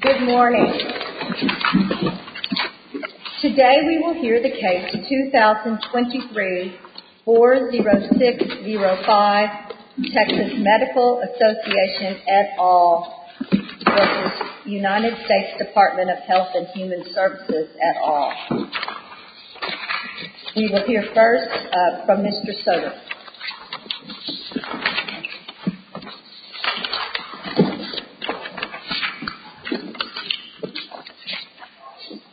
Good morning. Today we will hear the case 2023-40605, Texas Medical Association et al. v. United States Department of Health and Human Services et al. We will hear first from Mr. Soter.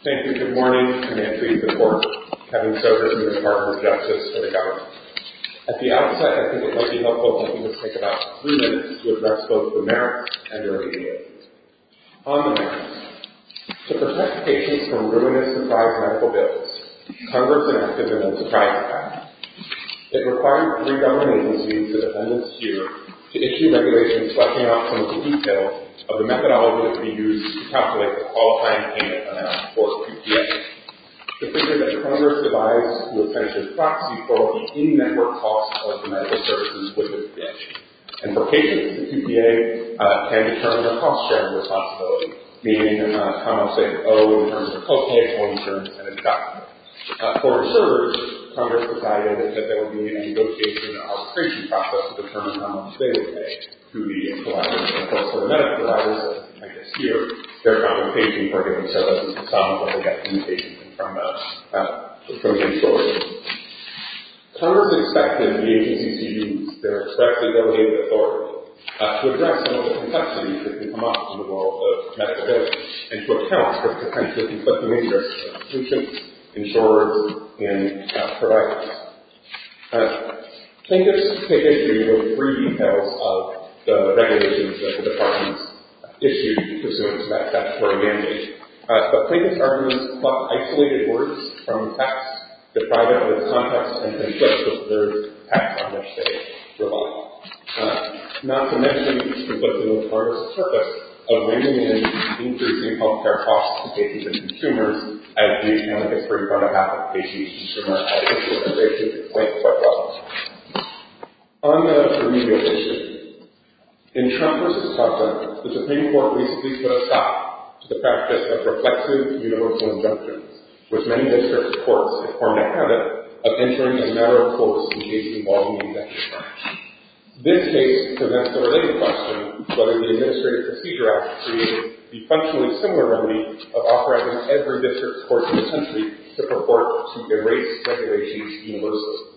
Thank you. Good morning. Command Chief of the Court, Kevin Soter from the Department of Justice for the government. At the outset, I think it might be helpful if we could take about three minutes to address both the merits and early data. On the merits, to protect patients from ruinous surprise medical bills, Congress enacted the Surprise Act. It required three government agencies, the defendants here, to issue regulations selecting optimal details of the methodology that could be used to calculate the Qualified Payment Amount, or QPA. The figure that Congress devised was kind of a proxy for the in-network cost of the medical services with this bill. And for patients, the QPA can determine the cost-sharing responsibility, meaning a comment saying, oh, in terms of co-pay, or in terms of independent document. For reservers, Congress decided that there would be a negotiation and arbitration process to determine how much they would pay to the providers. And, of course, for the medical providers, I guess here, their complication for getting services is how much they get from the insurers. Congress expected the agencies to use their correctly delegated authority to address some of the complexities that could come up in the world of Mexico, and to account for the potentially conflicting interests of patients, insurers, and providers. Plaintiffs take issue with three details of the regulations that the departments issued, presuming that that were a mandate. But plaintiffs' arguments block isolated words from facts, deprive them of context, and then judge that there is facts on which they rely. Not to mention that this was the most harsh purpose of weighing in increasing health care costs to patients and consumers, as we have a history of having patients and consumers have issues with, and they should point to our costs. On the remedial issue, in Trump v. Trump, the Supreme Court recently put a stop to the practice of reflexive universal injunctions, with many district courts, it formed a habit of ensuring a narrow focus in case-involving injunctions. This case presents the related question whether the Administrative Procedure Act created the functionally similar remedy of authorizing every district court in the country to purport to erase regulations universally.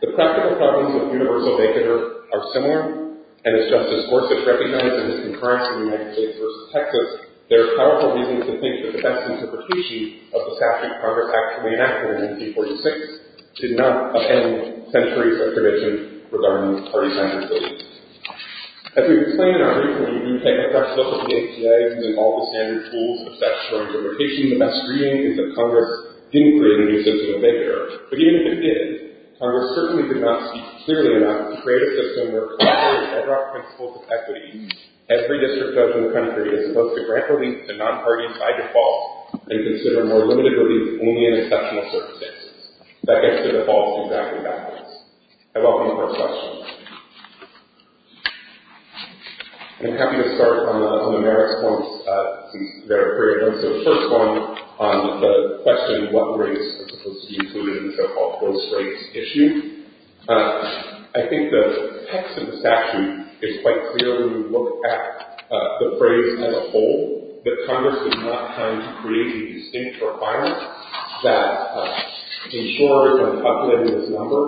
The practical problems with universal vacater are similar, and as Justice Gorsuch recognized in his concurrence in the United States v. Texas, there are powerful reasons to think that the best interpretation of the statute Congress actually enacted in 1846 did not upend centuries of tradition regarding party-centered policies. As we explained in our briefing, we take a fresh look at the ACA and all the standard tools of statutory interpretation. The best reading is that Congress didn't create a new system of vacater. But even if it did, Congress certainly did not speak clearly enough to create a system where every district judge in the country is supposed to grant relief to non-parties by default and consider more limited relief only in exceptional circumstances. That gets to the false exacting documents. I welcome your questions. I'm happy to start on the merits forms that are created. So the first one on the question of what race is supposed to be included in the so-called close race issue. I think the text of the statute is quite clear when you look at the phrase as a whole, that Congress did not plan to create a distinct requirement that insurers are populated as a number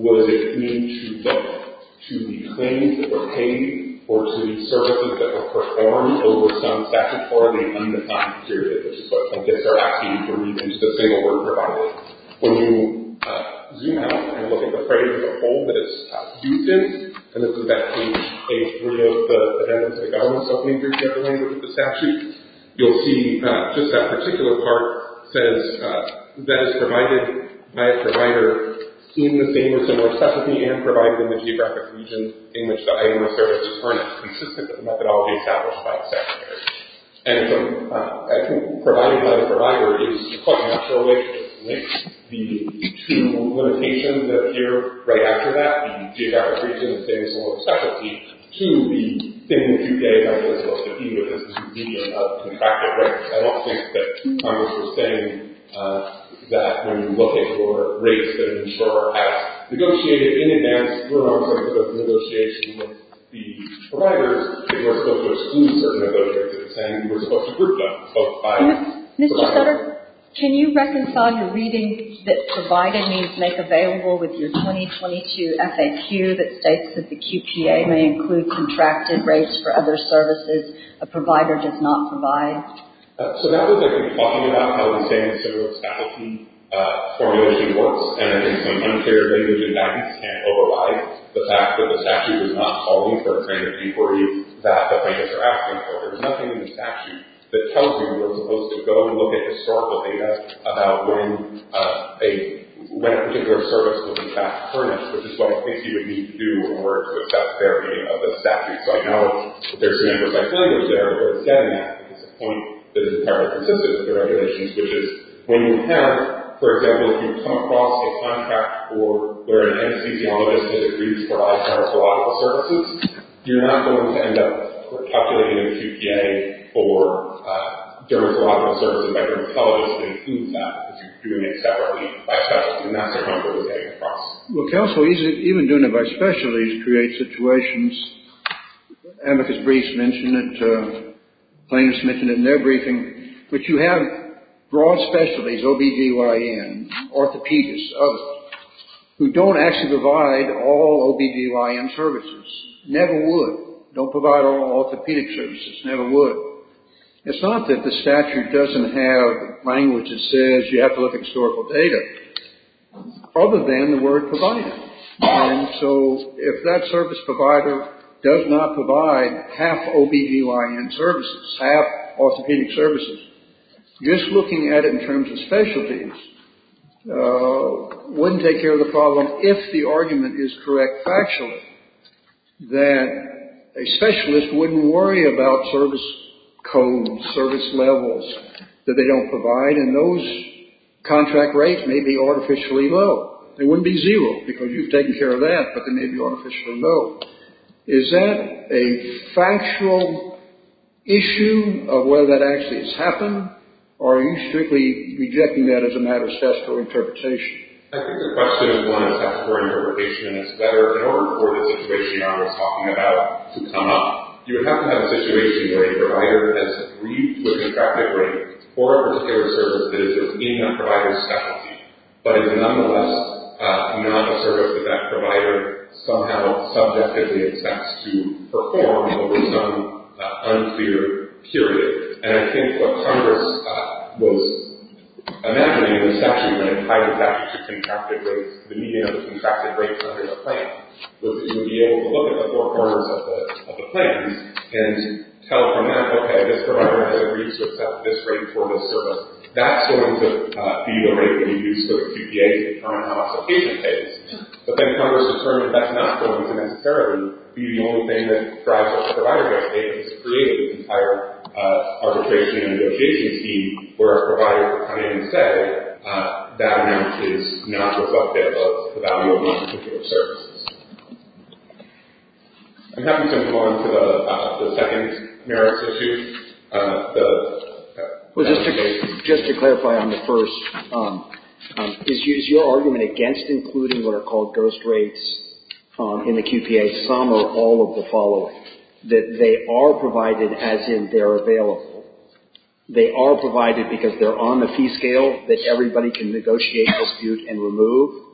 whether they came to look to be claimed or paid or to be services that are performed over some statute or they need to not be deteriorated. I guess they're asking you to read into the single word provided. When you zoom out and look at the phrase as a whole that it's used in, and this is back in page 3 of the Addendum to the Government's Opening Bureaucratic Language of the Statute, you'll see just that particular part says, that is provided by a provider in the same or similar suffragette and provided in the geographic region in which the item of service is earned. It's consistent with the methodology established by the statutory. And provided by the provider is quite naturally linked to the limitation that appear right after that, the geographic region in the same or similar suffragette, to the thing that you gave that you're supposed to deal with, which is the convenience of contracted rates. I don't think that Congress was saying that when you're looking for rates that an insurer has negotiated in advance, you're not supposed to negotiate with the providers, you're supposed to exclude certain negotiators, and you're supposed to group them. Mr. Sutter, can you reconcile your reading that provided means make available with your 2022 FAQ that states that the QPA may include contracted rates for other services a provider does not provide? So that was, I think, talking about how the same sort of establishment formulation works, and I think some unclear things in that can't override the fact that the statute is not calling for a kind of D40 that the banks are asking for. There's nothing in the statute that tells you you're supposed to go and look at historical data about when a particular service was in fact furnished, which is one of the things you would need to do in order to assess the verity of the statute. So I know there's a number of stipulations there, but instead of that, this point is entirely consistent with the regulations, which is when you have, for example, if you come across a contract where an anesthesiologist disagrees for all general thoracic services, you're not going to end up calculating a QPA for general thoracic services by your oncologist, but it includes that, because you're doing it separately by specialty. And that's the problem we're getting across. Well, counsel, even doing it by specialty creates situations. Amicus Briefs mentioned it, plaintiffs mentioned it in their briefing. But you have broad specialties, OB-GYN, orthopedists, others, who don't actually provide all OB-GYN services, never would, don't provide all orthopedic services, never would. It's not that the statute doesn't have language that says you have to look at historical data, other than the word provided. And so, if that service provider does not provide half OB-GYN services, half orthopedic services, just looking at it in terms of specialties wouldn't take care of the problem, if the argument is correct factually, that a specialist wouldn't worry about service codes, service levels that they don't provide, and those contract rates may be artificially low. They wouldn't be zero, because you've taken care of that, but they may be artificially low. Is that a factual issue of whether that actually has happened, or are you strictly rejecting that as a matter of statistical interpretation? I think the question is one of statistical interpretation, and it's whether an over-reported situation you're not always talking about can come up. You would have to have a situation where a provider has agreed with the contract rate for a particular service that is within that provider's specialty, but is nonetheless not a service that that provider somehow subjectively expects to perform over some unclear period. And I think what Congress was imagining in the session when it tied it back to contracted rates, the median of the contracted rates under the plan, was that you would be able to look at the four corners of the plan and tell from that, okay, this provider has agreed to accept this rate for this service. That's going to be the rate that you use for the QPA to determine how much the patient pays. But then Congress determined that's not going to necessarily be the only thing that drives up the provider benefit. It's created an entire arbitration and negotiation scheme where a provider can come in and say, that amount is not reflective of the value of these particular services. I'm happy to move on to the second merits issue. Just to clarify on the first, is your argument against including what are called ghost rates in the QPA, some or all of the following, that they are provided as in they're available? They are provided because they're on the fee scale that everybody can negotiate, dispute, and remove?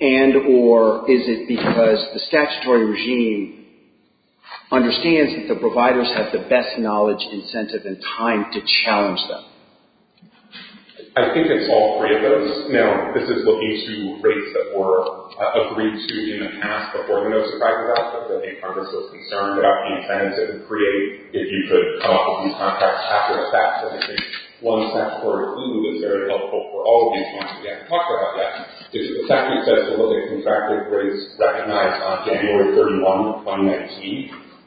And or is it because the statutory regime understands that the providers have the best knowledge, incentive, and time to challenge them? I think it's all three of those. No, this is looking to rates that were agreed to in the past before the notice of privatization. I think Congress was concerned about the incentive to create, if you could come up with these contracts after a statute, I think one statutory clue that's very helpful for all of these ones, we haven't talked about that, is that the statute says to look at contracted rates recognized on January 31, 2019.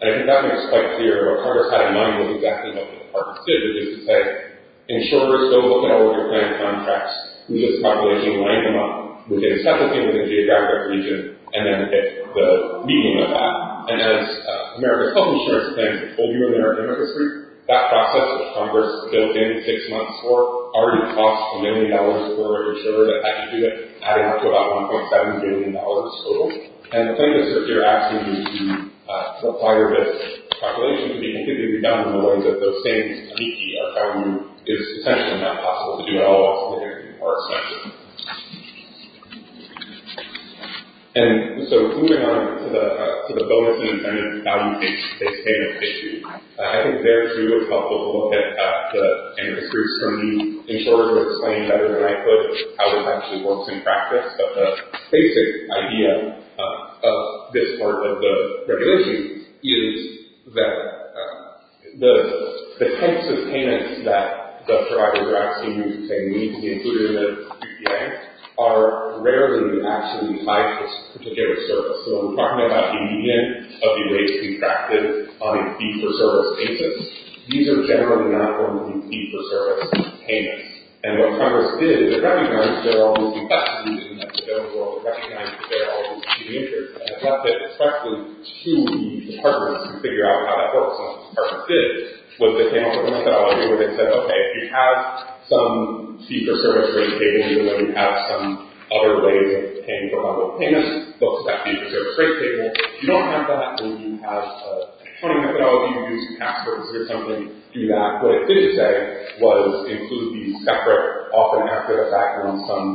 And I think that makes it quite clear, what Congress had in mind wasn't exactly what Congress did. It was just to say, insurers, go look at all of your planned contracts, who does the population line them up, look at a set of things in the geographic region, and then pick the median of that. And as America's Health Insurance Plans, that process, which Congress built in six months' worth, already costs a million dollars for an insurer to actually do that, adding up to about $1.7 billion total. And the thing is, if you're asking to apply your best calculation, I think it would be done in a way that those same techniques are found, it's potentially not possible to do at all, or something that would be more expensive. And so, moving on to the bonus and incentive value-based payment issue. I think there, too, it's helpful to look at the interest rates from the insurers that explain better than I could how this actually works in practice. But the basic idea of this part of the regulation is that the types of payments that the providers are asking you to pay need to be included in the PPA are rarely actually tied to this particular service. So, when we're talking about the median of the rates contracted on a fee-for-service basis, these are generally not normally fee-for-service payments. And what Congress did, they recognized there are all these new factors, and they recognized that there are all these new features, and left it respectively to departments to figure out how that works. And what Congress did was they came up with a methodology where they said, okay, if you have some fee-for-service rate table, even when you have some other ways of paying for mobile payments, those type of fee-for-service rate tables, if you don't have that, then you have a funding methodology to do some tax purposes or something to do that. What it didn't say was include these separate, often after the fact, on some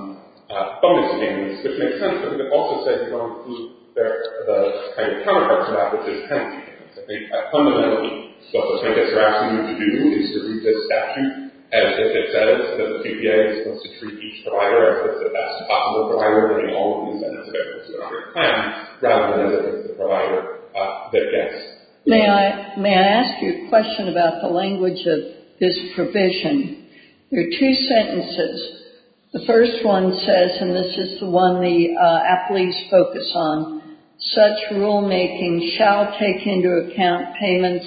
bonus payments, which makes sense, but it also says you don't include the counterparts to that, which is common sense. I think, fundamentally, what the plaintiffs are asking you to do is to read this statute as if it says that the TPA is supposed to treat each provider as the best possible provider in all of these aspects of their claim, rather than as the provider that gets. May I ask you a question about the language of this provision? There are two sentences. The first one says, and this is the one the athletes focus on, such rulemaking shall take into account payments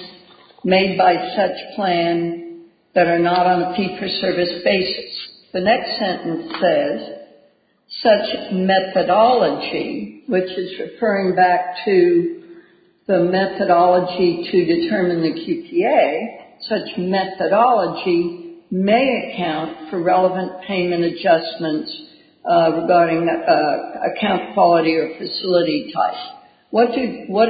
made by such plan that are not on a fee-for-service basis. The next sentence says, such methodology, which is referring back to the methodology to determine the QPA, such methodology may account for relevant payment adjustments regarding account quality or facility type. What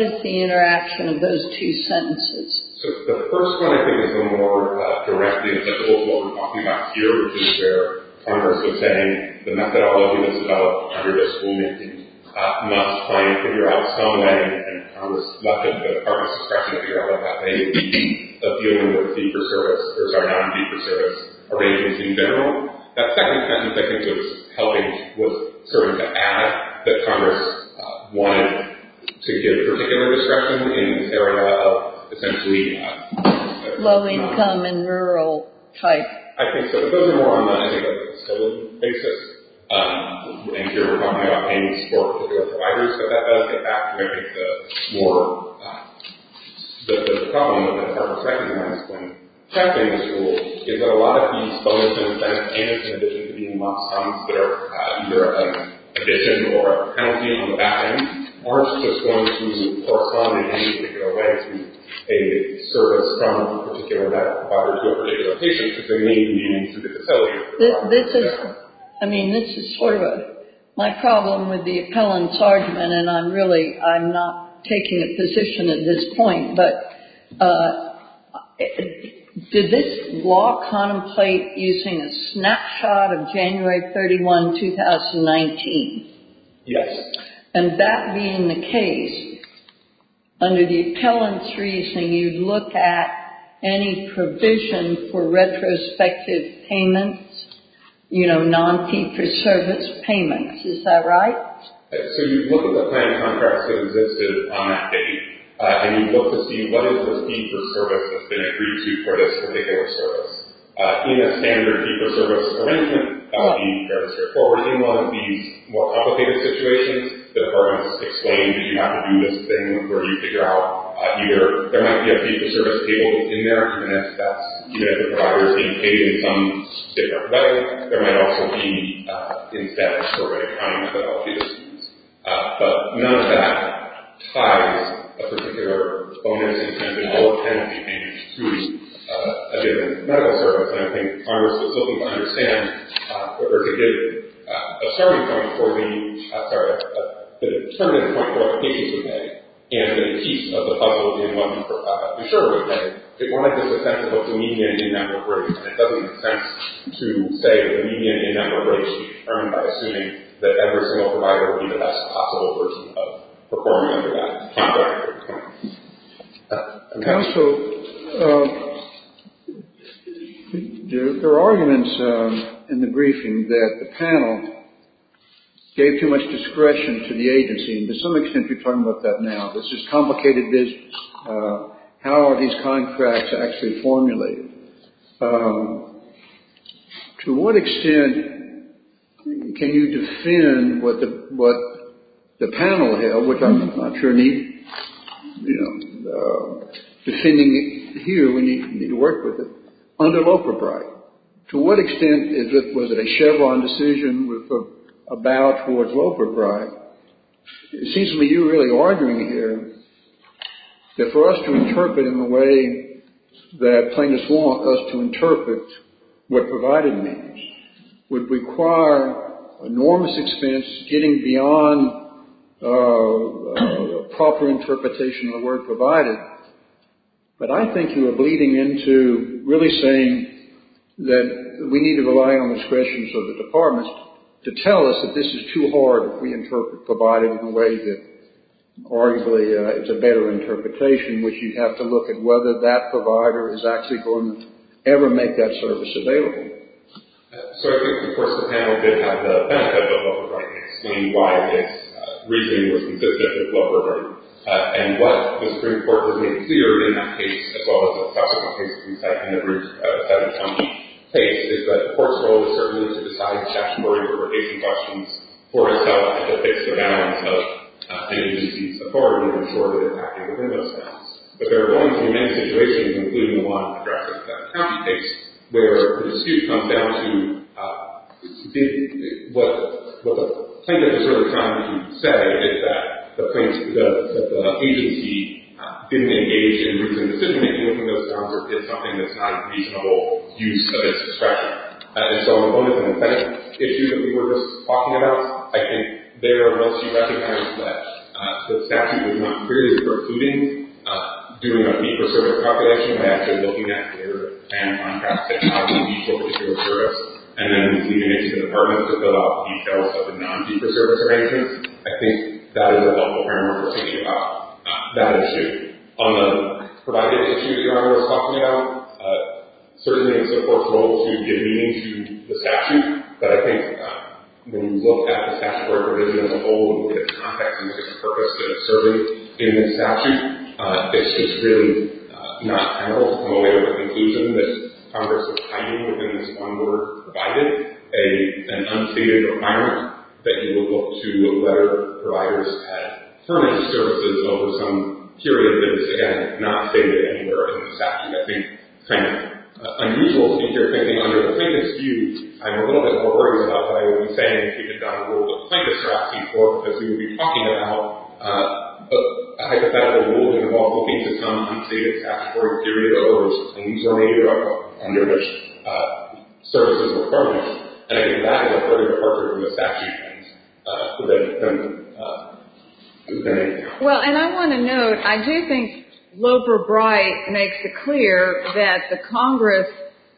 is the interaction of those two sentences? The first one, I think, is a little more direct. It's what we're talking about here, which is where Congress was saying the methodology was developed under this rulemaking. I'm not trying to figure out some way, and Congress, not that the Congress is trying to figure out that way, but dealing with fee-for-service or non-fee-for-service arrangements in general. That second sentence, I think, was helping, was sort of to add that Congress wanted to give particular discretion in this area of, essentially, low income and rural type. I think so. But those are more on a facility basis. And here we're talking about payments for providers, so that does get back to the problem that Congress recognized when drafting this rule is that a lot of these bonuses, benefits, and additions to being lost funds that are either an addition or a penalty on the back end aren't just going to correspond in any particular way to a service from a particular provider to a particular patient because they may be meaning to the facility. This is, I mean, this is sort of my problem with the appellant's argument, and I'm really, I'm not taking a position at this point. But did this law contemplate using a snapshot of January 31, 2019? Yes. And that being the case, under the appellant's reasoning, you'd look at any provision for retrospective payments, you know, non-fee-for-service payments. Is that right? So you'd look at the kind of contracts that existed on that date, and you'd look to see what is this fee-for-service that's been agreed to for this particular service. In a standard fee-for-service arrangement, that would be fairly straightforward. In one of these more complicated situations, the department has explained that you have to do this thing where you figure out either there might be a fee-for-service table in there and that's, you know, the provider is being paid in some different way. There might also be, in fact, a survey kind of methodology that's used. But none of that ties a particular bonus incentive or penalty payment to a given medical service. And I think Congress was looking to understand or to give a starting point for the, I'm sorry, a determinant point for what the case was made, and a piece of the puzzle in what we're sure was made. It wanted this sense of a dominion in that approach, and it doesn't make sense to say that a dominion in that approach is determined by assuming that every single provider would be the best possible version of performing under that. Counsel, there are arguments in the briefing that the panel gave too much discretion to the agency, and to some extent we're talking about that now. This is complicated business. How are these contracts actually formulated? To what extent can you defend what the panel held, which I'm not sure need, you know, defending here, we need to work with it, under Loper Bright. To what extent was it a Chevron decision with a bow towards Loper Bright? It seems to me you're really arguing here that for us to interpret in the way that plaintiffs want us to interpret what provided means would require enormous expense getting beyond proper interpretation of the word provided. But I think you are bleeding into really saying that we need to rely on the discretion of the departments to tell us that this is too hard if we interpret provided in a way that arguably is a better interpretation, which you'd have to look at whether that provider is actually going to ever make that service available. So I think, of course, the panel did have the benefit of Loper Bright in explaining why this reasoning was consistent with Loper Bright, and what the Supreme Court would make clear in that case, as well as the possible cases we cite in the Bruce Satterthorne case, is that the court's role is certainly to decide the statutory appropriation questions for itself and to fix the balance of an agency's authority and ensure that it's active within those bounds. But there are going to be many situations, including the one in the Draft of the Seventh County case, where the dispute comes down to what the plaintiff is trying to say is that the agency didn't engage in reasoned decision-making within those bounds or did something that's not a reasonable use of its discretion. And so on the second issue that we were just talking about, I think there are those who recognize that the statute was not clearly precluding doing a fee-for-service appropriation, but actually looking at the error and contrast technology between the fee-for-service and then leaving it to the department to fill out the details of the non-fee-for-service arrangements. I think that is a helpful framework for thinking about that issue. On the provided issue that John was talking about, certainly it's the court's role to give meaning to the statute, but I think when you look at the statutory provision as a whole and the context and the purpose that it's serving in the statute, it's just really not general to come away with the conclusion that Congress is hiding within this one word, provided, an unceded requirement that you will look to whether providers have permanent services over some period that is, again, not stated anywhere in the statute. I think it's kind of unusual to hear anything under the plaintiff's view. I'm a little bit more worried about what I would be saying if you could have gotten a rule that the plaintiffs are asking for because we would be talking about a hypothetical ruling involving some unceded statutory period of errors and these are made up under which services are permanent. And I think that is a further part of the statute. Well, and I want to note, I do think Loper-Bright makes it clear that the Congress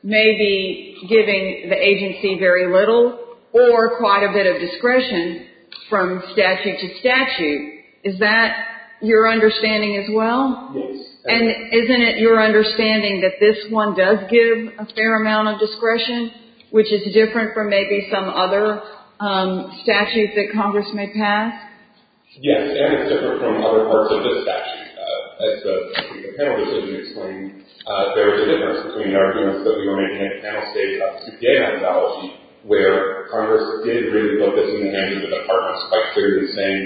may be giving the agency very little or quite a bit of discretion from statute to statute. Is that your understanding as well? Yes. And isn't it your understanding that this one does give a fair amount of discretion, which is different from maybe some other statute that Congress may pass? Yes, and it's different from other parts of the statute. As the panel recently explained, there is a difference between the arguments that we were making at the panel stage about the QPA methodology, where Congress did agree to build this in the hands of the Department, quite clearly saying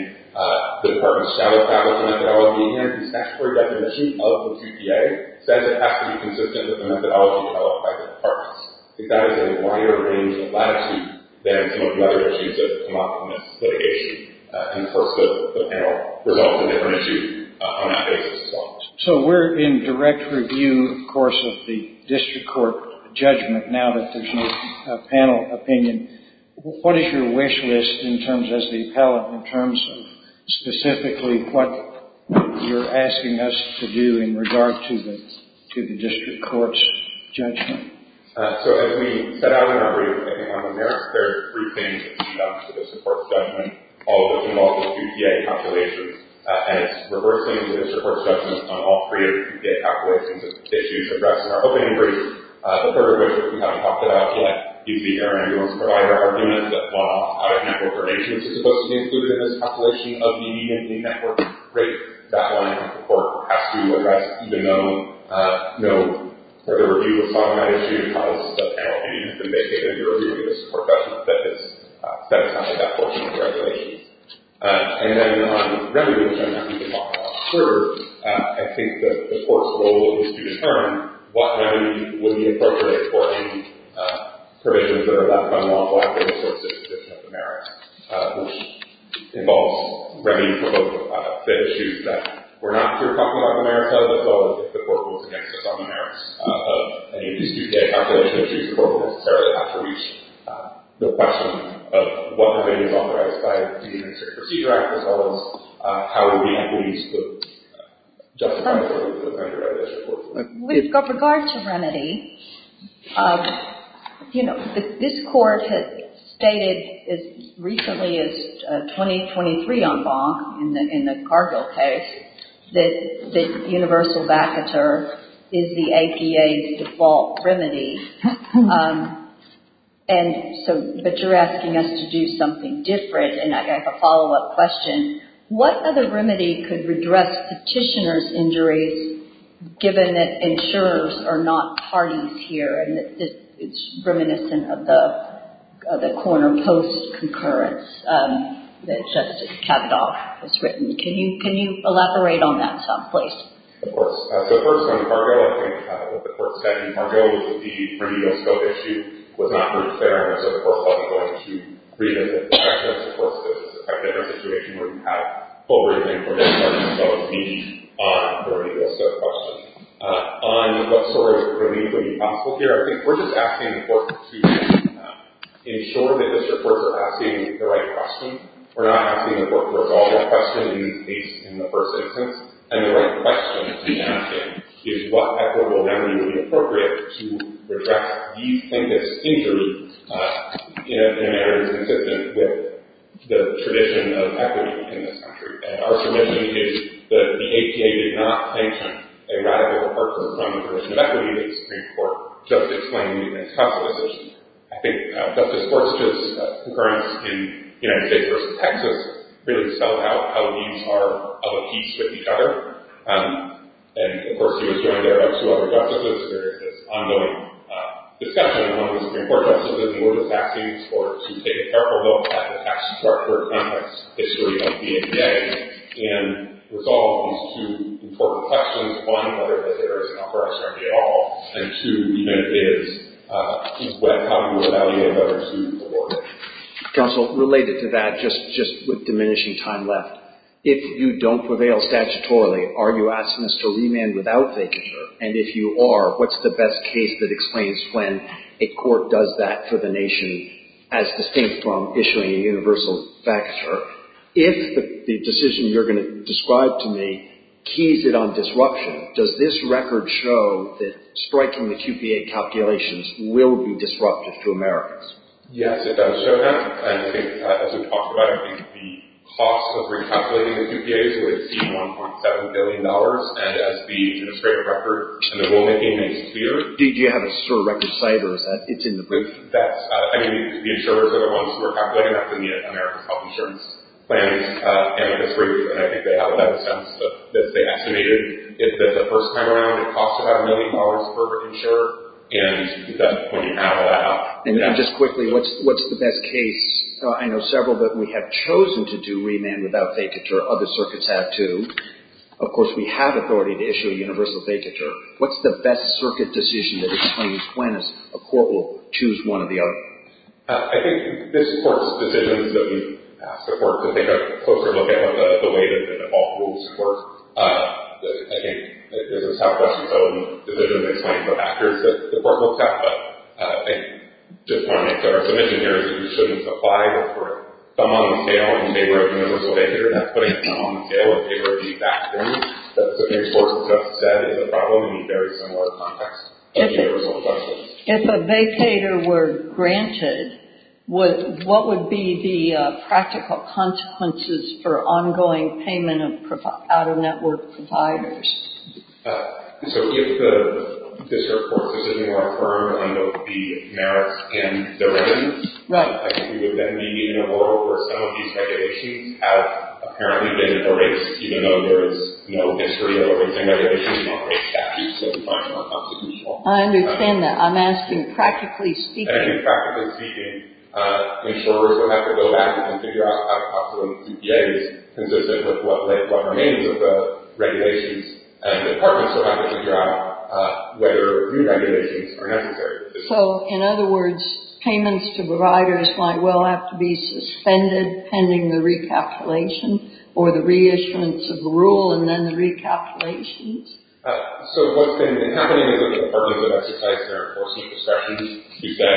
the Department shall establish a methodology and the statutory definition of the QPA says it has to be consistent with the methodology developed by the Department. I think that is a wider range of latitude than some of the other issues that have come up in this litigation. And of course, the panel resolved a different issue on that basis as well. So we're in direct review, of course, of the district court judgment now that there's no panel opinion. What is your wish list in terms, as the appellate, in terms of specifically what you're asking us to do in regard to the district court's judgment? So as we set out in our review, I think on the merits, there are three things that stand out to this court's judgment, all of which involve the QPA calculations, and it's reversing the district court's judgment on all three of the QPA calculations, issues addressed in our opening brief. The third of which, which we haven't talked about yet, is the Air Ambulance Provider argument that while out-of-network probation is supposed to be included in this calculation of the immediately networked rate, that line of the court has to address even though no further review was done on that issue because the panel opinion has been vacated in the review of this court judgment that has set aside that portion of the regulations. And then on revenue, which I'm happy to talk about later, I think the court's role is to determine what revenue will be appropriate for any provisions that are left unlawful after the court's disposition of the merits, which involves revenue for both the issues that we're not here talking about the merits of, as well as the court rules against us on the merits of any of these QPA calculation issues the court will necessarily have to reach the question of what revenue is authorized by a particular procedure act, as well as how will the employees look justified for the remainder of this report. We've got regard to remedy. You know, this court has stated as recently as 2023 en banc in the Cargill case that universal vacatur is the APA's default remedy. But you're asking us to do something different and I have a follow-up question. What other remedy could redress petitioner's injuries given that insurers are not parties here and it's reminiscent of the corner post concurrence that Justice Kavadaugh has written. Can you elaborate on that in some place? Of course. So first on Cargill, I think what the court said in Cargill was that the remedial scope issue was not very fair and so the court thought it was going to redress it. Of course, this is a different situation where you have full written information that would be on the remedial scope question. On what sort of remedial would be possible here, I think we're just asking the court to ensure that this report is asking the right question. We're not asking the court to resolve the question in the case in the first instance. And the right question to be asking is what equitable remedy would be appropriate to redress these plaintiff's injuries in a manner consistent with the tradition of equity in this country. And our submission is that the APA did not patent a radical report from the Commission of Equity in the Supreme Court just explaining the immense cost of this issue. I think Justice Forster's concurrence in J versus Texas really spelled out how these are of a piece with each other. And of course, he was joined there by two other justices. There is this ongoing discussion among the Supreme Court justices and we're just asking the courts to take a careful look at the tax structure and tax history of the APA and resolve these two important questions. One, whether this area is enough for us or not at all. And two, even if it is, keep in mind how you would evaluate whether it's good or poor. Counsel, related to that, just with diminishing time left, if you don't prevail statutorily, are you asking us to remand without thinking? Sure. And if you are, what's the best case that explains when a court does that for the nation as distinct from issuing a universal factor? If the decision you're going to describe to me keys it on disruption, does this record show that striking the QPA calculations will be disruptive to Americans? Yes, it does show that. And I think, as we've talked about, I think the cost of recalculating the QPAs would exceed $1.7 billion. And as the administrative record and the rulemaking makes clear... Do you have a SIR record site, or is that... It's in the brief? That's... I mean, the insurers are the ones who are calculating that for the America's Health Insurance Plan. And in this brief, and I think they have it at a sense, that they estimated that the first time around, it costs about $1 million per insurer. And when you have that... And just quickly, what's the best case? I know several that we have chosen to do remand without vacatur. Other circuits have, too. Of course, we have authority to issue a universal vacatur. What's the best circuit decision that explains when a court will choose one or the other? I think this court's decisions that we've asked the court to take a closer look at are the way that all rules work. I think it's a self-questioning decision to explain the factors that the court looks at, but I just wanted to make that our submission here is that we shouldn't supply the court thumb-on-scale in favor of universal vacatur. That's putting thumb-on-scale in favor of the factors that the case court just said is a problem in a very similar context as universal vacatur. If a vacatur were granted, what would be the practical consequences for ongoing payment of out-of-network providers? So if the district court's decision were affirmed under the merits in the remand, I think we would then be in a world where some of these regulations have apparently been erased, even though there is no history of any regulations or any statutes that define them are constitutional. I understand that. I'm asking practically speaking. And I think practically speaking, insurers will have to go back and figure out how the cost of a CPA is consistent with what remains of the regulations. And departments will have to figure out whether new regulations are necessary. So, in other words, payments to providers might well have to be suspended pending the recapitulation or the reissuance of the rule and then the recalculations. So what's been happening is that departments have exercised their enforcing discretion to say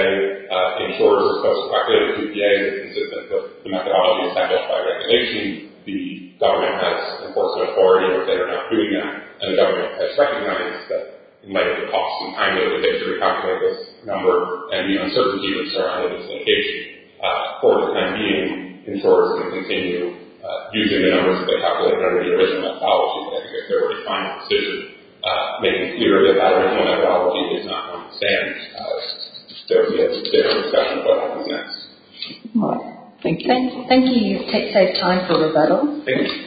insurers are supposed to calculate a CPA consistent with the methodology established by regulation. The government has enforced their authority or they are not doing that. And the government has recognized that it might have cost them time in order for them to recalculate this number and the uncertainty of surrounding this location. For the time being, insurers can continue using the numbers that they calculated under the original methodology as their final decision. Making clear that that original methodology is not common sense. There will be a different discussion about that in the next. Alright. Thank you. Thank you. Take safe time for rebuttal. Thank you.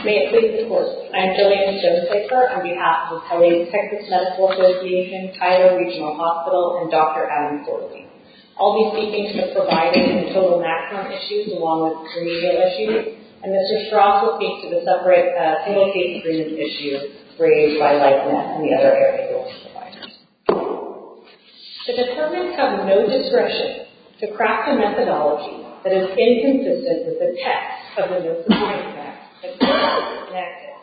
May it please the Court. I am Jillian Josepher on behalf of LA's Texas Medical Association, Tyler Regional Hospital and Dr. Adam Forley. I will be speaking to the providers in total maximum issues along with remedial issues and Mr. Strauss will speak to the separate subcommittee The determinants have no discretion to craft a methodology that is inconsistent with the text of the no-supporting facts that should not be enacted.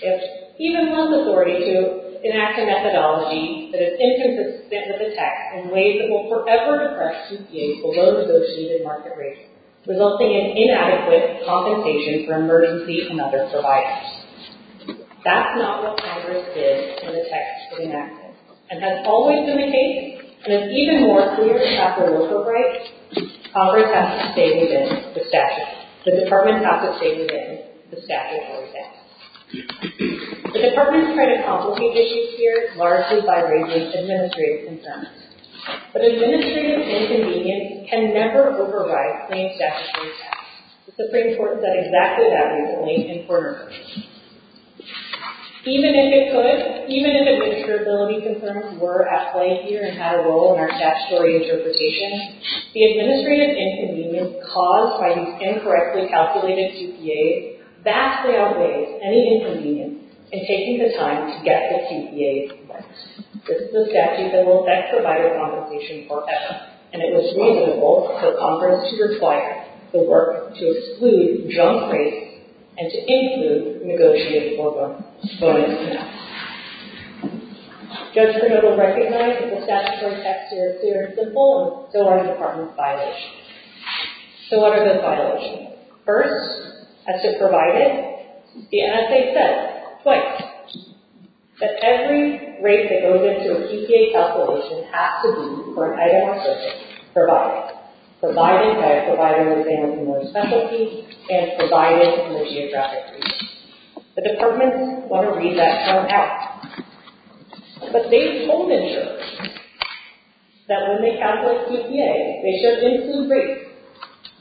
It even holds authority to enact a methodology that is inconsistent with the text in ways that will forever depress CPAs below negotiated market rates, resulting in inadequate compensation for emergency and other survivors. That's not what Congress did when the text was enacted and has always been the case and it's even more clear after local rights Congress has to say within the statute. The department has to say within the statute always after. The department has tried to complicate issues here largely by raising administrative concerns. But administrative inconvenience can never override claimed statutory facts. It's of great importance that exactly that reason is made important. Even if it could, even if administrative concerns were at play here and had a role in our statutory interpretation, the administrative inconvenience caused by these incorrectly calculated CPAs vastly outweighs any inconvenience in taking the time to get the CPAs involved. This is a statute that will affect provider compensation forever and it was reasonable for Congress to require the work to exclude junk rates and to include negotiated foregoing bonuses. Judge Pernod will recognize that the statutory facts here are simple and so are the department's violations. So what are those violations? First, as to provided, the NSA said twice that every rate that goes into a CPA calculation has to be for an item of service provided. Provided by providing the examiner's specialty and provided in the geographic region. The departments want to read that term out. But they've told insurers that when they calculate CPAs they should include rates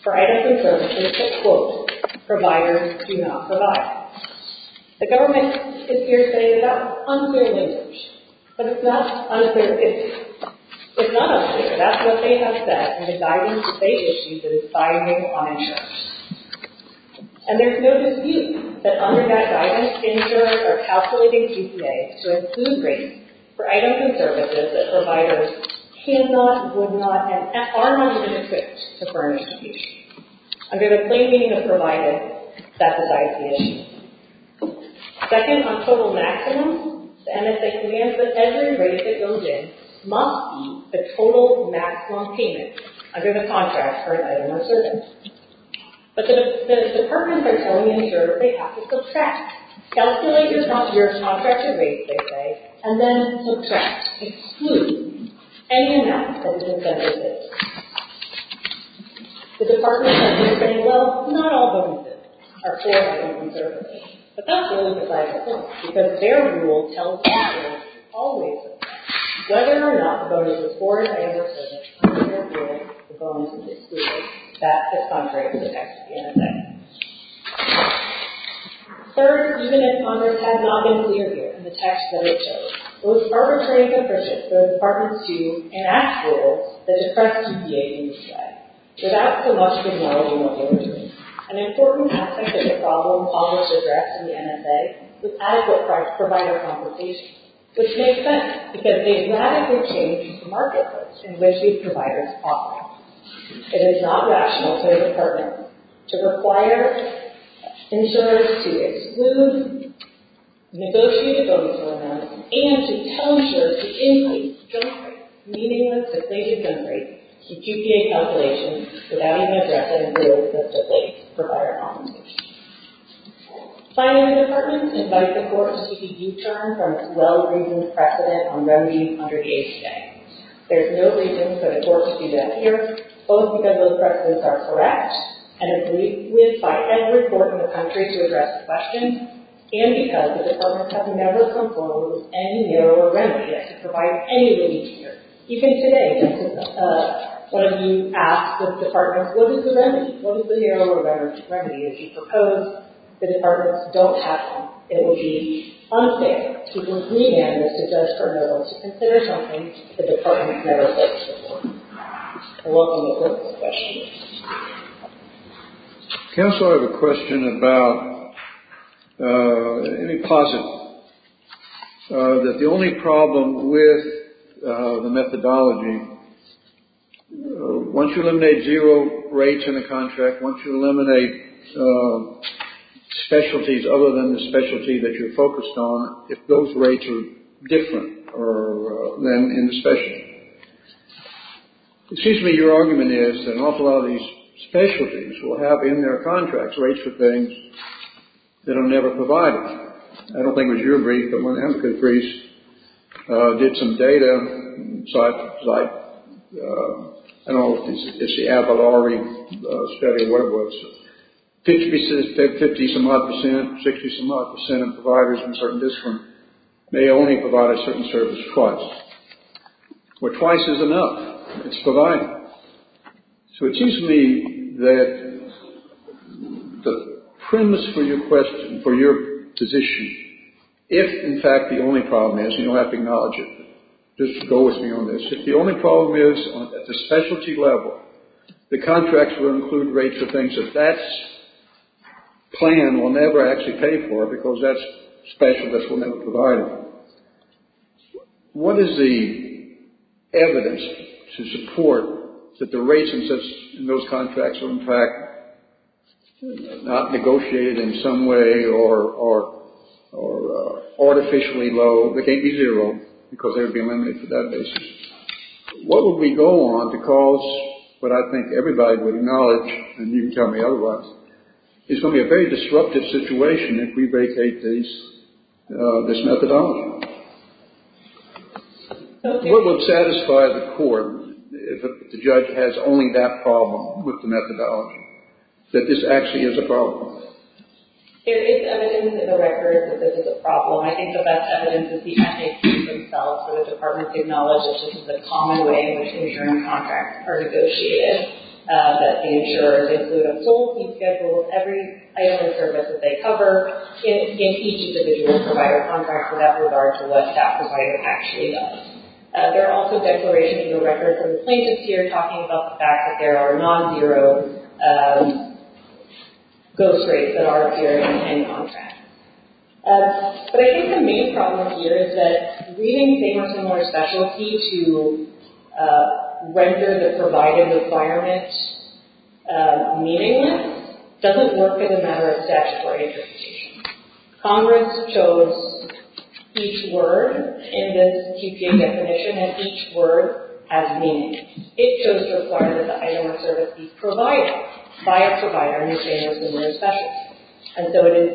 for items of service that quote providers do not provide. The government is here to say that that's unfair language but it's not unfair. It's not unfair. That's what they have said and the guidance states that it's binding on insurance. And there's no dispute that under that guidance insurers are calculating CPAs to include rates for items and services that providers cannot, would not and are not even equipped to furnish each. Under the plain meaning of provided, that's the guidance. Second, on total maximum, the NSA commands that every rate that goes in must be the total maximum payment under the contract for an item of service. But the departments are telling insurers they have to subtract. Calculate your contracted rates they say and then subtract, any amount from the incentive rate. The departments are here saying well not all bonuses are for items of service but that's really because their rule tells them always whether or not the bonus is for an item of service that's contrary to the text of the NSA. Third, even if Congress has not been clear here in the text that it chose, it was arbitrary and capricious for the departments to enact rules that express CPA use rights without the luxury of knowledge and ability. An important aspect of the problem always addressed in the NSA was adequate provider compensation which makes sense because they radically change the in which these providers operate. It is not rational to require insurers to exclude negotiated bonuses and to tell insurers to increase job rates meaningless if they can generate some QPA compilations without having to address any rules that provide compensation. Finally, departments invite the courts to detour from well-reasoned precedent on remedying underage debt. There is no reason for the courts to provide anything here. Even today, one of you asked the departments what is the remedy? As you proposed, the don't have one. It would be unfair to the media to suggest for no one to consider something the never said before. Any questions? Counselor, I have a question about any posit that the only problem with the methodology once you eliminate zero rates in the contract, once you specialties other than the specialty that you're focused on, if those rates are different than the specialty. Excuse me, your argument is that an awful lot of these specialties will have in their contracts rates for things that are never provided. I don't think it was your brief, but one of the countries did some data, I don't know if it's the study, whatever it was, 50 some odd percent, 60 some odd percent of providers in certain districts may only provide a certain service twice, where twice is enough. It's provided. So it seems to me that the premise for your question, for your position, is that if in fact the only problem is, and you don't have to acknowledge it, just go with me on this, if the only problem is at the specialty level the contracts will include rates for things that that plan will never actually pay for because that specialist will never provide them, what is the evidence to support that that the rates in those contracts are in fact not negotiated in some way or are artificially low, they can't be zero because they would be limited for that basis. What would we go on to cause what I think everybody would acknowledge, and you can tell me otherwise, is going to be a very disruptive situation if we vacate this methodology. What would satisfy the court if the judge has only that problem with the methodology, that this actually is a problem? There is evidence in the record that this is a problem. I think the best evidence is the FAQs themselves, so the department acknowledges that this is a common way in which insurance providers can provide without regard to what the provider actually does. There are also declarations in the record from plaintiffs here talking about the fact that there are non-zero ghost rates that are appearing in contracts. But I think the main problem here is that reading famous numerous specialty to render the provided requirement meaningless doesn't work as a matter of statutory interpretation. Congress chose each word in this TPA definition and each word has meaning. It chose to require that the item of service be provided by a provider in a famous numerous specialty. And so it is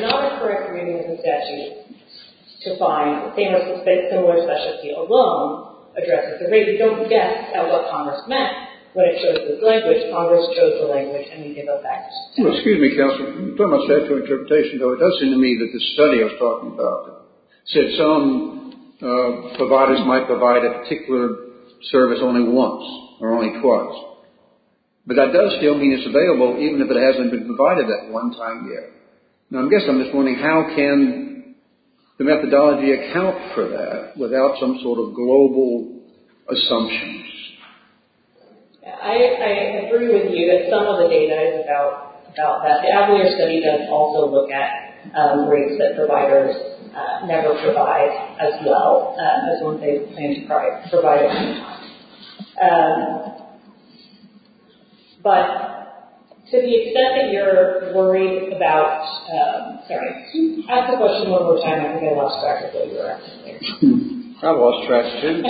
not a correct reading of the statute to find famous and similar specialty alone addresses the rate of non-zero ghost rates And to find and similar And statute and I agree with you that some of the data is about that the Avalier study does also look at rates that never provide as well as what they provide But to the extent that you're worried about sorry ask the question one more time. I think I lost track of what you were asking. I lost track too.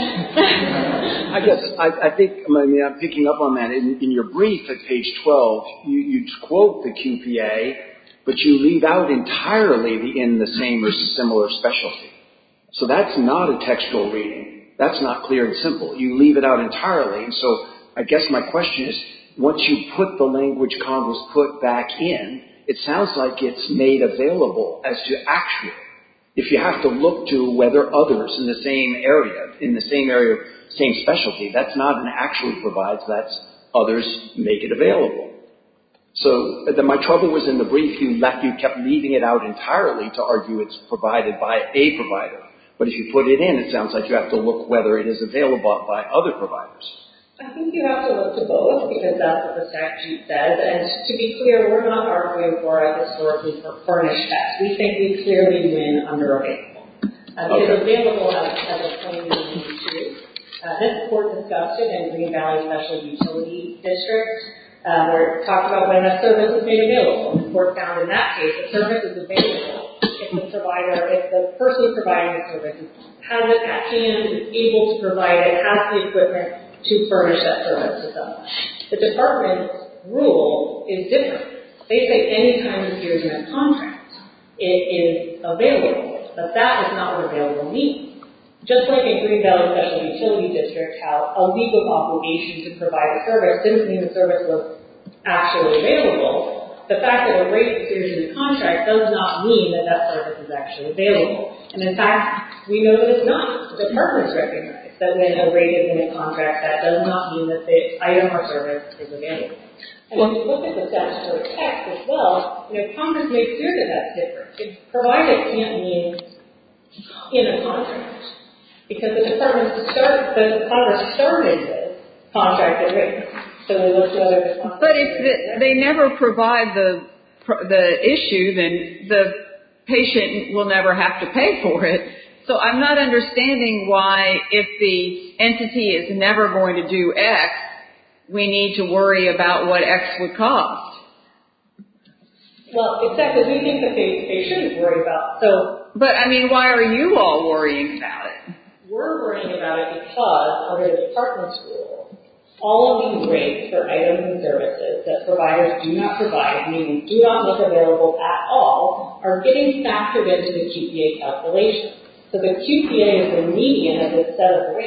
I guess I think I'm picking up on that in your brief at page 12 you quote the QPA but you leave out entirely in the same or similar specialty so that's not a textual reading that's not clear and simple you leave it out entirely so I guess my question is once you put the language converse put back in it sounds like it's made available as to actually if you have to look to whether others in the same area in the same area same specialty that's not an actually provides that's others make it available so my trouble was in the brief you kept leaving it out entirely to argue it's provided by a provider but if you put it in it sounds like you have to look whether it is available by other providers I think you have to look to both because that's what the statute says and to be clear we're not arguing for a historically furnished text we think we clearly win under available it's available as a plain and easy to read this court discussed it and re-evaluated specialty utility district talked about when a service is made available the court found in that case a service is available if the provider if the person providing the service has it at hand able to provide it has the equipment to furnish that service itself the department rule is different they say any time a service appears in a contract it is available but that is not what available means just like in Green Valley Special Utility District how a legal obligation to provide a service didn't mean the service was actually available the fact that a rate appears in a contract does not mean that that service is actually available makes sure that that's different provided it can't be in a contract because the Congress started the contract agreement but if they never provide the issue then the patient will never have to pay for it so I'm not understanding why if the is never going to do X we need to worry about what X would cost well except that we think that they shouldn't worry about so but I mean why are you all worrying about it we're worrying about it because under the department's rule all of these rates for items and services that providers do not provide meaning do not make available at all are getting factored into the QPA calculation so the QPA is a median of a set of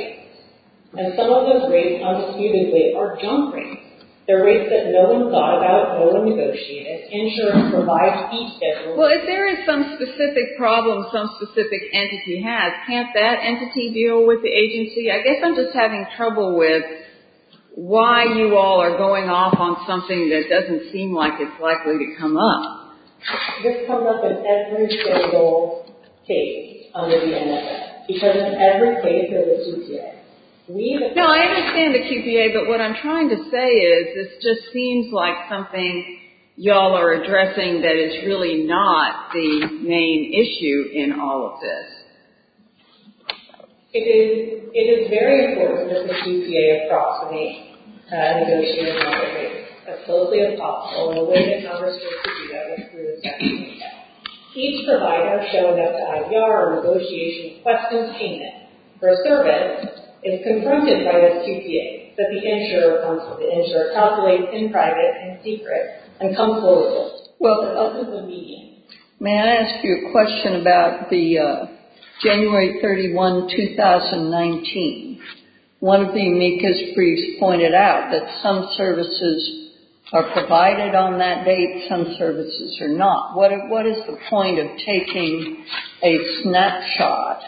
and some of those rates undisputedly are junk rates they're rates that no one thought about no one negotiated insurance provides each well if there is some specific problem some specific entity has can't that entity deal with the agency I guess I'm just having trouble with why you all are going off on something that doesn't seem like it's likely to come up this comes up in every single page under the NFA because in every page of the QPA we have we have QPA it's the main issue with all of this it is very important that the QPA approach the negotiation of the QPA that the insurer consult the insurer in private and secret and come forward. May I ask you a question about the January 31, 2019. One of the MECAS briefs pointed out that some services are provided on that date, some services are not. What is the point of taking a snapshot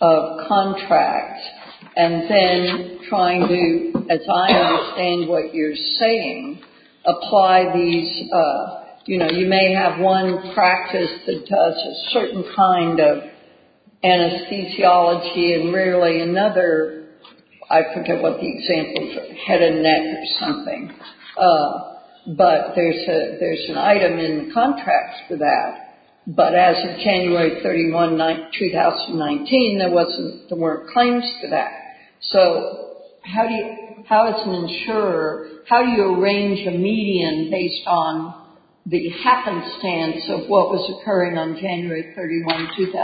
of contract and then trying to as I understand what you're saying apply these you know you may have one practice that does a certain kind of anesthesiology and really another I forget what the example head and neck or but there's an item in the for that but as of 31, 2019 there wasn't the word claims to that. So how do you how does an insurer how do you arrange a median based on the happenstance of what was occurring on January 31, I think the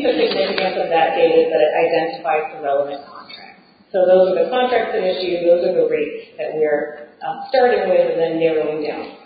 significance of that data is that it identifies the relevant contract. So those are the contracts that issue those are the rates that we are starting with and then narrowing down.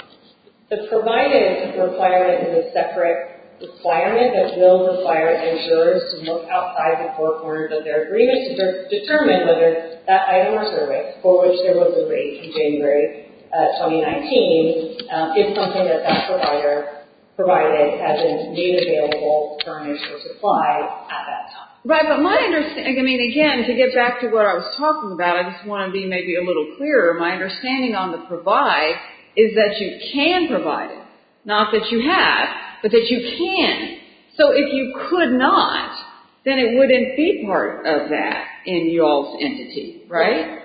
The provided requirement is a separate requirement that will require insurers to look outside the four corners of their agreements to determine whether that item or survey for which there was a rate in January 2019 is something that that provider provided as a new available furnish or supply at that time. Right but my understanding I mean again to get back to what I was talking about I just want to be maybe a little clearer my understanding on the provide is that you can provide it. Not that you have but that you can. So if you could not then it wouldn't be part of that in your entity right?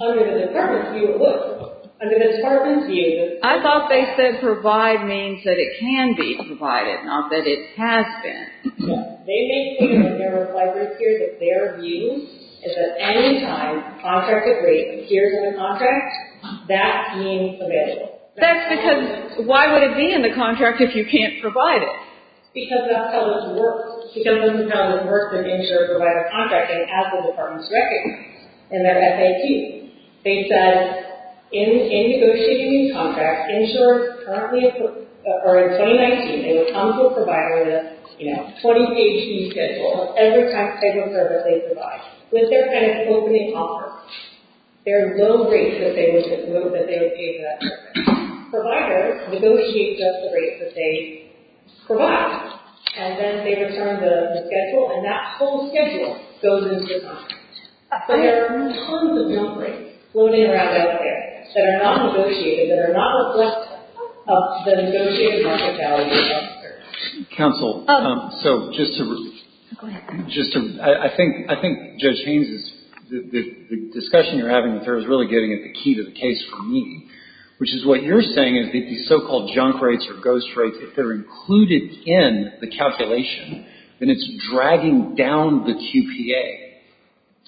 Under the contract. you're saying is that provide means that it can be provided not that it has been. No. They make clear that their view is that any time contracted rate appears in the contract that being available. That's because why would it be in the contract if you can't provide it? Because that's how it works. Because that's how it works to ensure provider contracting as the department recommends. In their FAQ they said in negotiating contract insurers currently or in 2019 they would come to a provider with a you know 20 page fee schedule every type of service they provide with their kind of opening offer. There are no rates that they would give that service. Providers negotiate just the rates that they provide and then they return the There are tons of junk rates floating around out there that are not negotiated that are not negotiated market value insurers. Counsel, so just to I think Judge Haynes is the discussion you're having is really getting at the key to the case for me. Which is what you're saying is that if these so-called junk rates or ghost rates if they're included in the calculation then it's dragging down the QPA.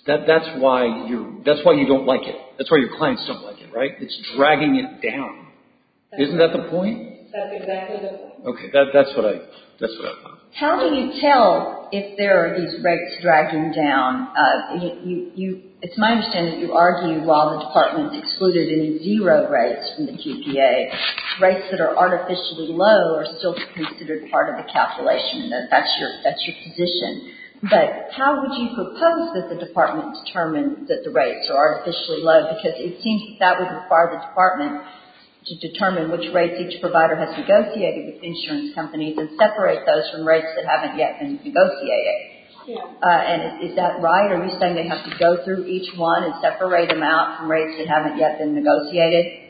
That's why you don't like it. That's why your clients don't like it, right? It's dragging it down. Isn't that the point? That's exactly the point. Okay. That's what I thought. How do you handle if there are these rates dragging down? It's my understanding you argue while the excluded any zero rates from the QPA, rates that are artificially low are still considered part of the calculation. That's your position. But how would you propose that the department determine that are artificially low because it seems that would require the department to determine which rates each provider has negotiated with insurance companies and separate those from rates that haven't yet been Is that right? Are you saying they have to go through each one and separate them out from rates that haven't yet been negotiated?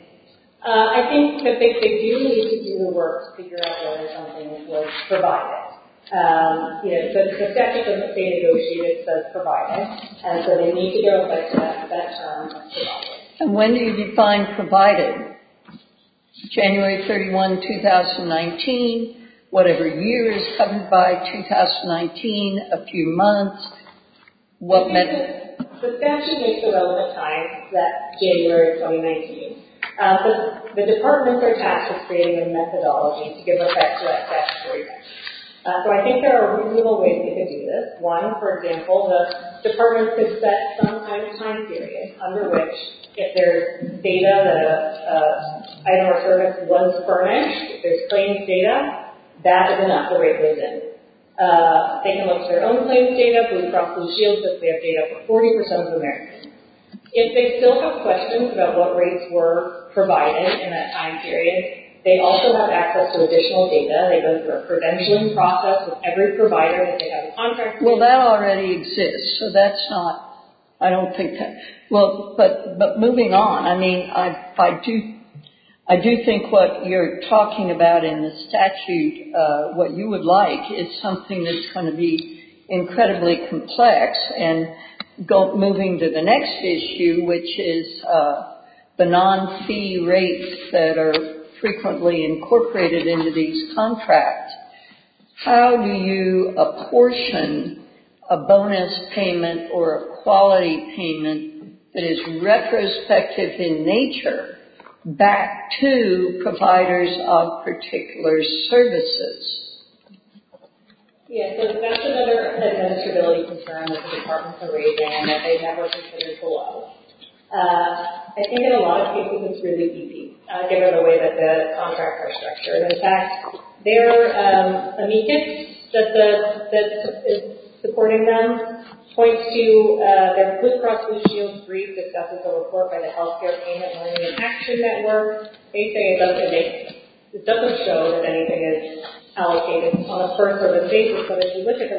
I think that they do need to do their work to figure out whether something is provided. The statute that they have to do you define provided? January 31, 2019, whatever year is coming by, 2019, a few months, what method? The statute gives the relevant time, that's January 2019. The departments are tasked with creating a methodology to give effect to that statute. So I think there are reasonable ways they could do this. One, for example, the department could set some kind of time period under which if there's data that an item or service was furnished, if there's claims data, that is enough the rate goes in. They can look at their own claims data from Blue Shields if they have data for 40% of Americans. If they still have questions about what rates were provided in that time period, they also have access to additional data. They go through a prevention process with every provider that they have a contract with. Well, that already exists, so that's not, I don't think that, well, but moving on, I mean, I do think what you're talking about in the statute, what you would like, is something that's going to be incredibly complex, and moving to the next issue, which is the non-fee rates that are frequently incorporated into these contracts. How do you apportion a bonus payment or a quality payment that is retrospective in nature back to providers of particular services? Yeah, so that's another administrability concern that the departments are raising and that they have representatives a lot of. I think in a lot of cases it's really easy. I'll give you an example the contract is structured. In fact, their amicus that is supporting them points to their Blue Cross Blue brief that discusses a report by the Healthcare Payment Learning Action Network. They say it doesn't show that anything is allocated on a fee-for-service baseline or they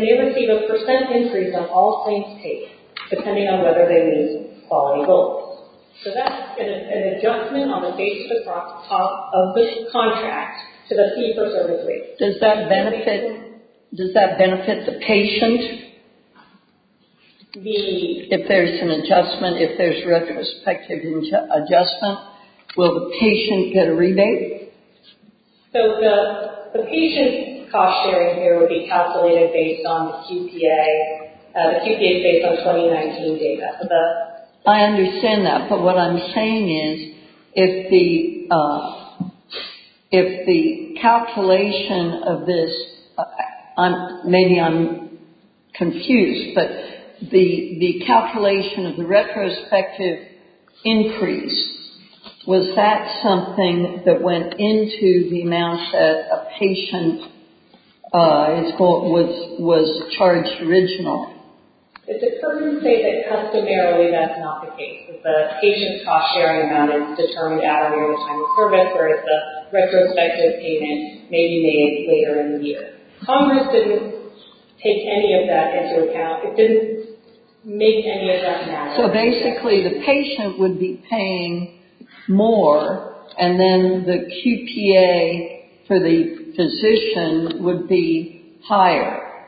may receive a percent increase on all claims paid depending on whether they meet quality goals. So that's an adjustment on the basis of the contract to the fee-for-service rate. Does that benefit the patient if there's an adjustment, if there's retrospective adjustment? Will the patient get a rebate? Thank you. So the patient cost sharing here would be calculated based on the QPA based on 2019 data. I understand that, but what I'm saying is if the if the calculation of this I'm maybe I'm confused, but the calculation of the retrospective increase, was that something that went into the amount that a was charged originally? If the person says that customarily, that's not the case. If the patient cost sharing amount is determined out of the overtime service, whereas the retrospective payment may be made later in the year. Congress didn't take any of that into account. It didn't make any of that matter. So basically the patient would be more, and then the QPA for the physician would be higher?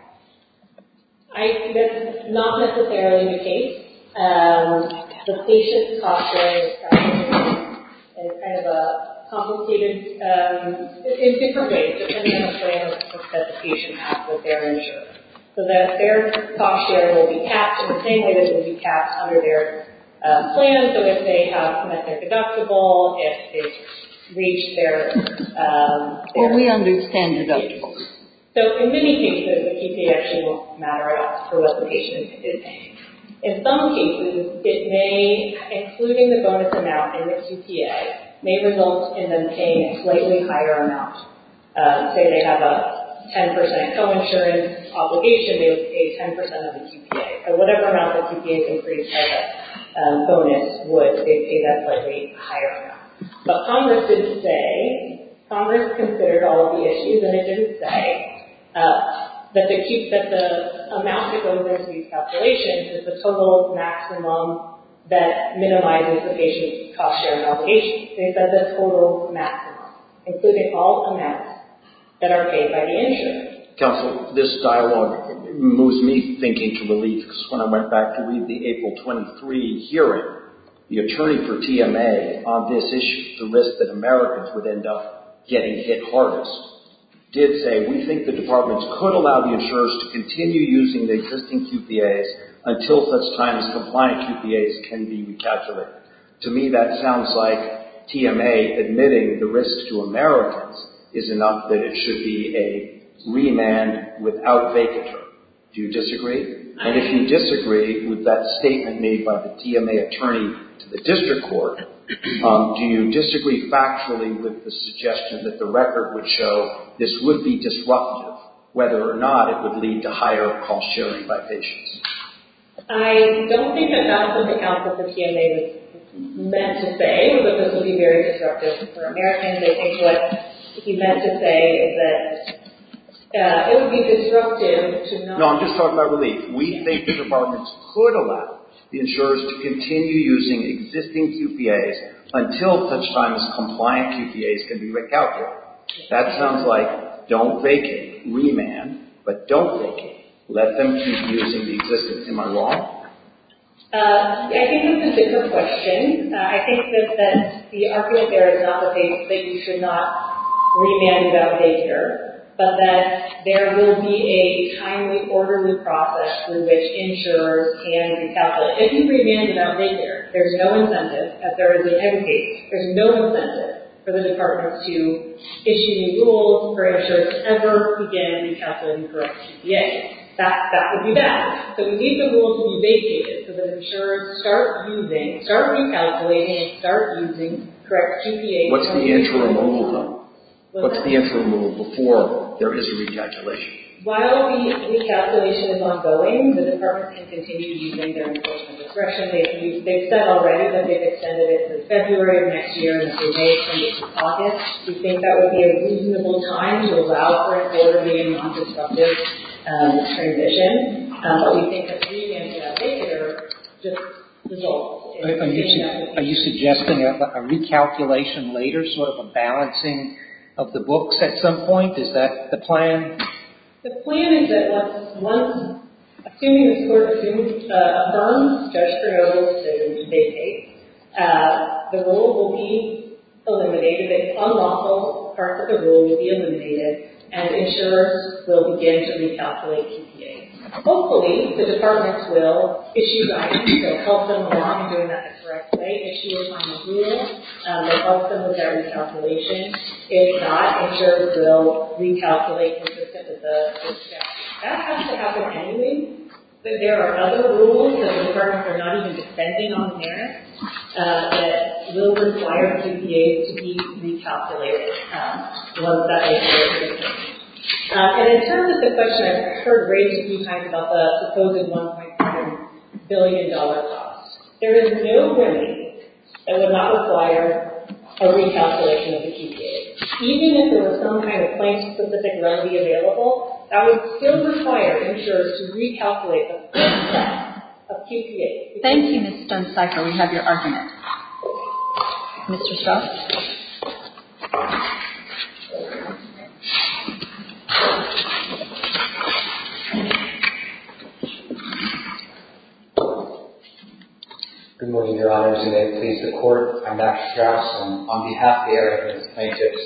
That's not necessarily the case. The patient cost sharing is kind of a complicated in different ways, depending on the plan that the patient has with their insurance. So that their cost sharing will be capped in the same way that it will be under their plan, so if they have met their deductible, if they've reached their deductible they've So in many cases the QPA actually won't matter at all for what the patient is paying. In some cases, it may, including the bonus amount in the QPA, may result in them paying a slightly higher amount. Say they have a 10% co-insurance obligation, they would pay 10% of the QPA. So whatever amount the QPA can pre-charge as a would, pay that slightly higher amount. But Congress didn't say, considered all of the issues and it didn't say that the amount that goes into these calculations is the total maximum that minimizes the patient's cost-sharing obligation. They said the total maximum, including all amounts that are paid by the insurance. Counselor, this dialogue moves me thinking to relief because when I went back to read the April 23 hearing, the attorney for TMA on this issue, the risk that Americans would end up getting hit hardest, did say, we think the departments could allow the to continue using the existing QPAs until such time as necessary. And if you disagree with that statement made by the TMA attorney to the court, do you disagree factually with the suggestion that the record would show this would be disruptive whether or not it would lead to higher cost-sharing by patients? I don't think that that's what the counsel for TMA meant to say, but this would be very disruptive for Americans. They think what he meant to say is that it would be to not No, I'm just talking about relief. We think the departments could allow the insurers to continue using existing QPAs until such time as compliant QPAs can be recalculated. That sounds like don't vacate, but don't vacate. Let them keep using the existence. Am I wrong? I think that's a different question. I think that the argument there is not that you should not remand without daycare, but that there will be a timely, orderly process in which insurers can recalculate. If you remand without daycare, there's no incentive that there is a vacate. There's no for the departments to issue new rules for insurers to ever begin recalculating correct QPAs. That would be that. So we need the rules to be vacated so that start using, start recalculating and start using correct QPAs. What's the interim rule before there is a recalculation? While the recalculation is ongoing, the departments can continue using their enforcement discretion. They've said already that they've extended it from February of next year to May of next August. We think that would be a reasonable time to allow for an orderly and non-destructive transition. We think that being in daycare just results in being in daycare. Are you suggesting a recalculation later, sort of a balancing of the books at some point? Is that the The plan is that once assuming this court affirms Judge Creole's decision to vacate, the rule will be eliminated, the unlawful parts of the rule Hopefully the departments will issue guidance to help them along in doing that the correct way. Issues on the rules will help them with their recalculation. If not, will recalculate consistent with the statute. That has been a question I've heard raised a few times about the supposed $1.7 billion cost. There is no remedy that would not require a recalculation of the QPA. Even if there was some kind of claim specific remedy available, that would still require insurers to recalculate the cost of If there is would require insurers to recalculate the cost of the QPA. If there is no remedy available, that would require insurers recalculate the cost QPA. If there is no remedy available, require insurers recalculate the cost of QPA. If there is no remedy available, require insurers recalculate the cost of QPA. If there is no remedy available, require insurers recalculate the cost of QPA. If there is no remedy available, require recalculate If there is no remedy available, require insurers recalculate If there is no remedy available, require If there recalculate If there remedy available, require insurers recalculate the cost of QPA. If recalculate If there is no remedy available, require insurers recalculate the cost of QPA. If there no remedy cost of QPA. If is no remedy insurers recalculate recalculate If there is no remedy available, require recalculate If there insurers recalculate QPA. If there is QPA. If there no require insurers recalculate of QPA. If is no remedy available, require insurers recalculate If no remedy available, require insurers recalculate cost of QPA. If remedy available, require insurers recalculate of QPA. If is no remedy available, require insurers recalculate of QPA. If there is no remedy recalculate of QPA. If there is remedy available, require insurers recalculate of If there is available, require insurers recalculate require QPA. If there is no remedy available, require insurers recalculate of If there is available, require insurers recalculate If there is no remedy available, require insurers recalculate of If there are no requirements for a service that they don't expect to But that provider has a lot to perform it. And the point I think is that when insurers look through the provider is equipped to furnish it, I have no idea how an is supposed to figure out when they have the looking at the contract dated January 31, 2019 with a for a specific requirement for a service that they don't expect to provide. I know that the provider although certified for OBGYN will not perform. I think plaintiffs are certain that that is very likely will be able to provide a service that they expect to provide. And I think likely that they will be able to provide a service that expect to And I think that is very likely that they will able to provide service that to their clients. And I think that is very likely that they will be able to provide a service that they expect to provide. And I think that is very likely that they will be able to provide a service that they expect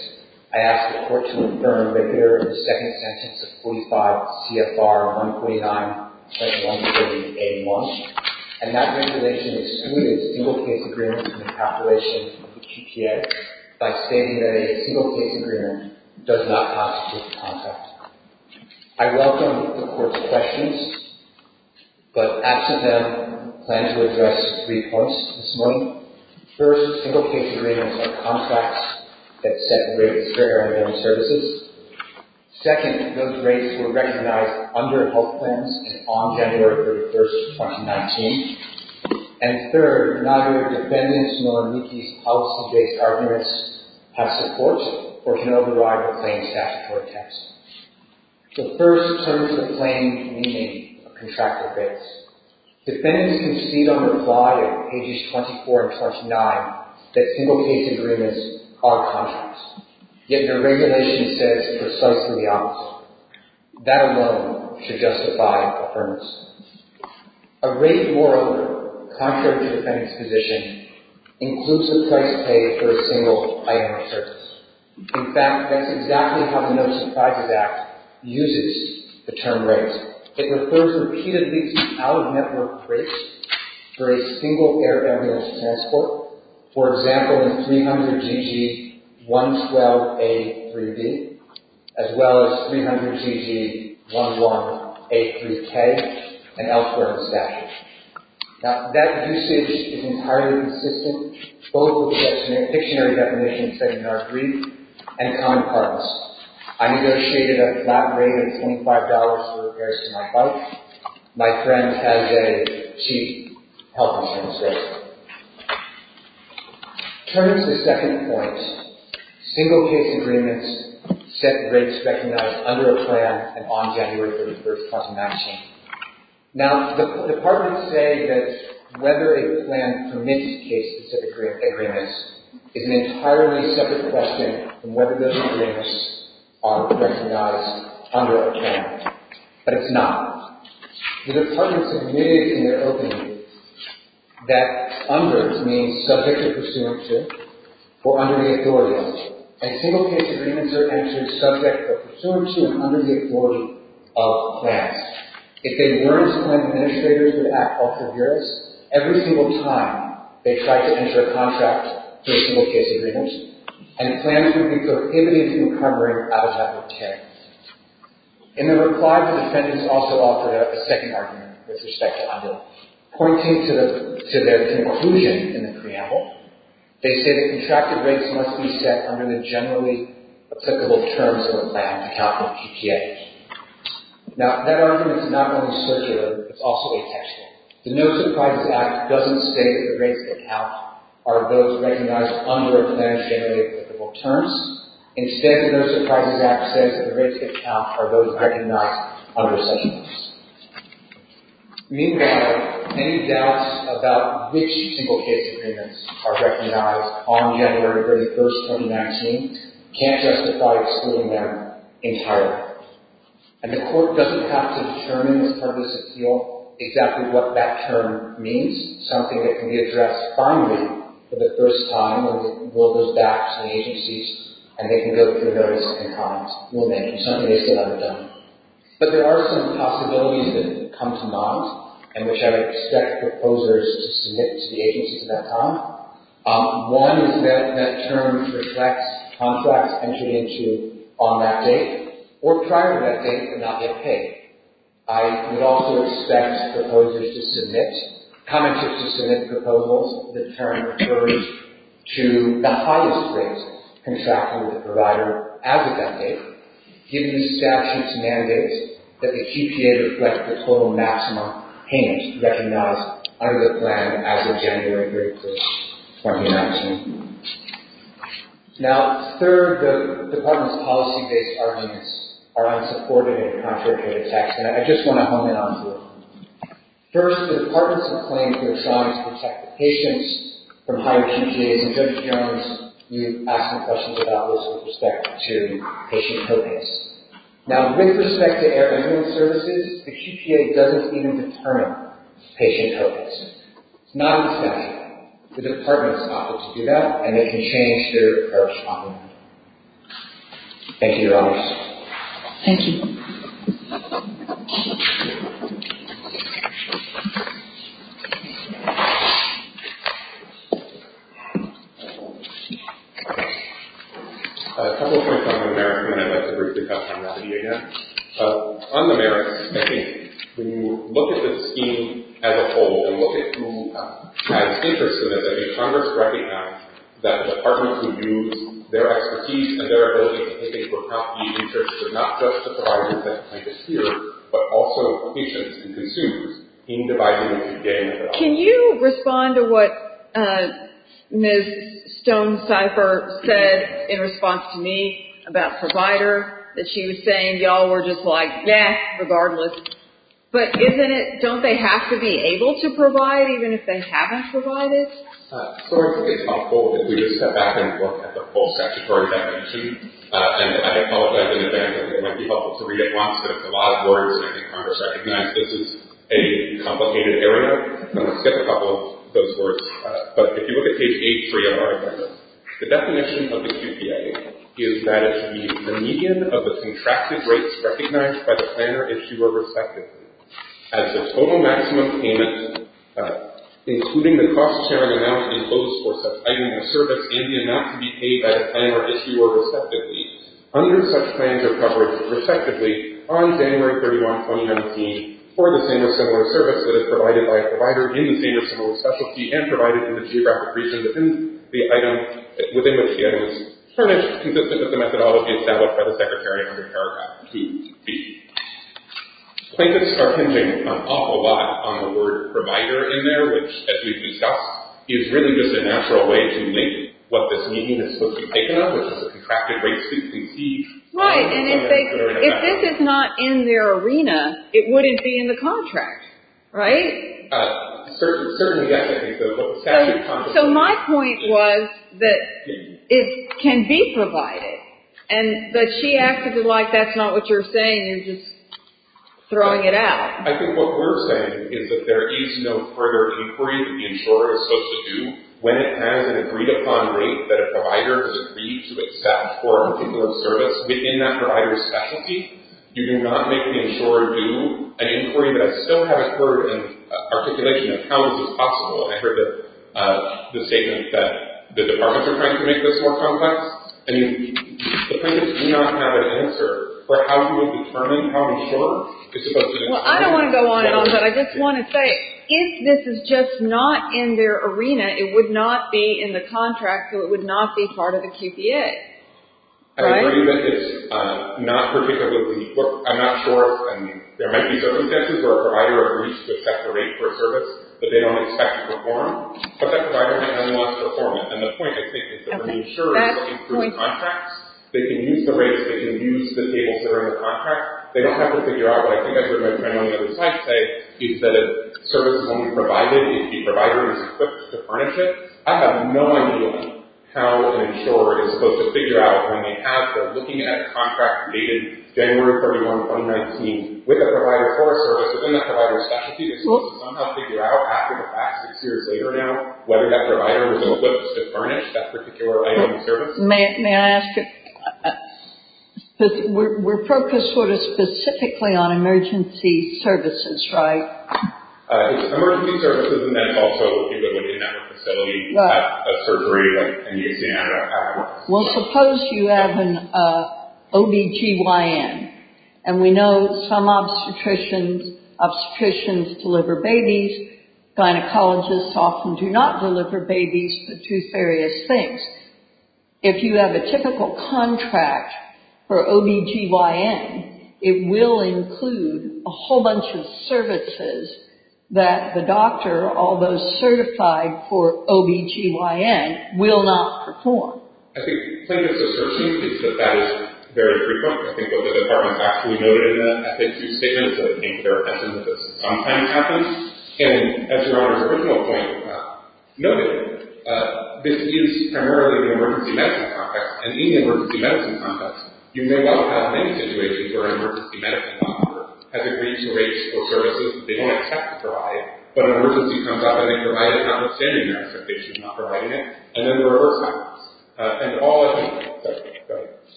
to provide. And they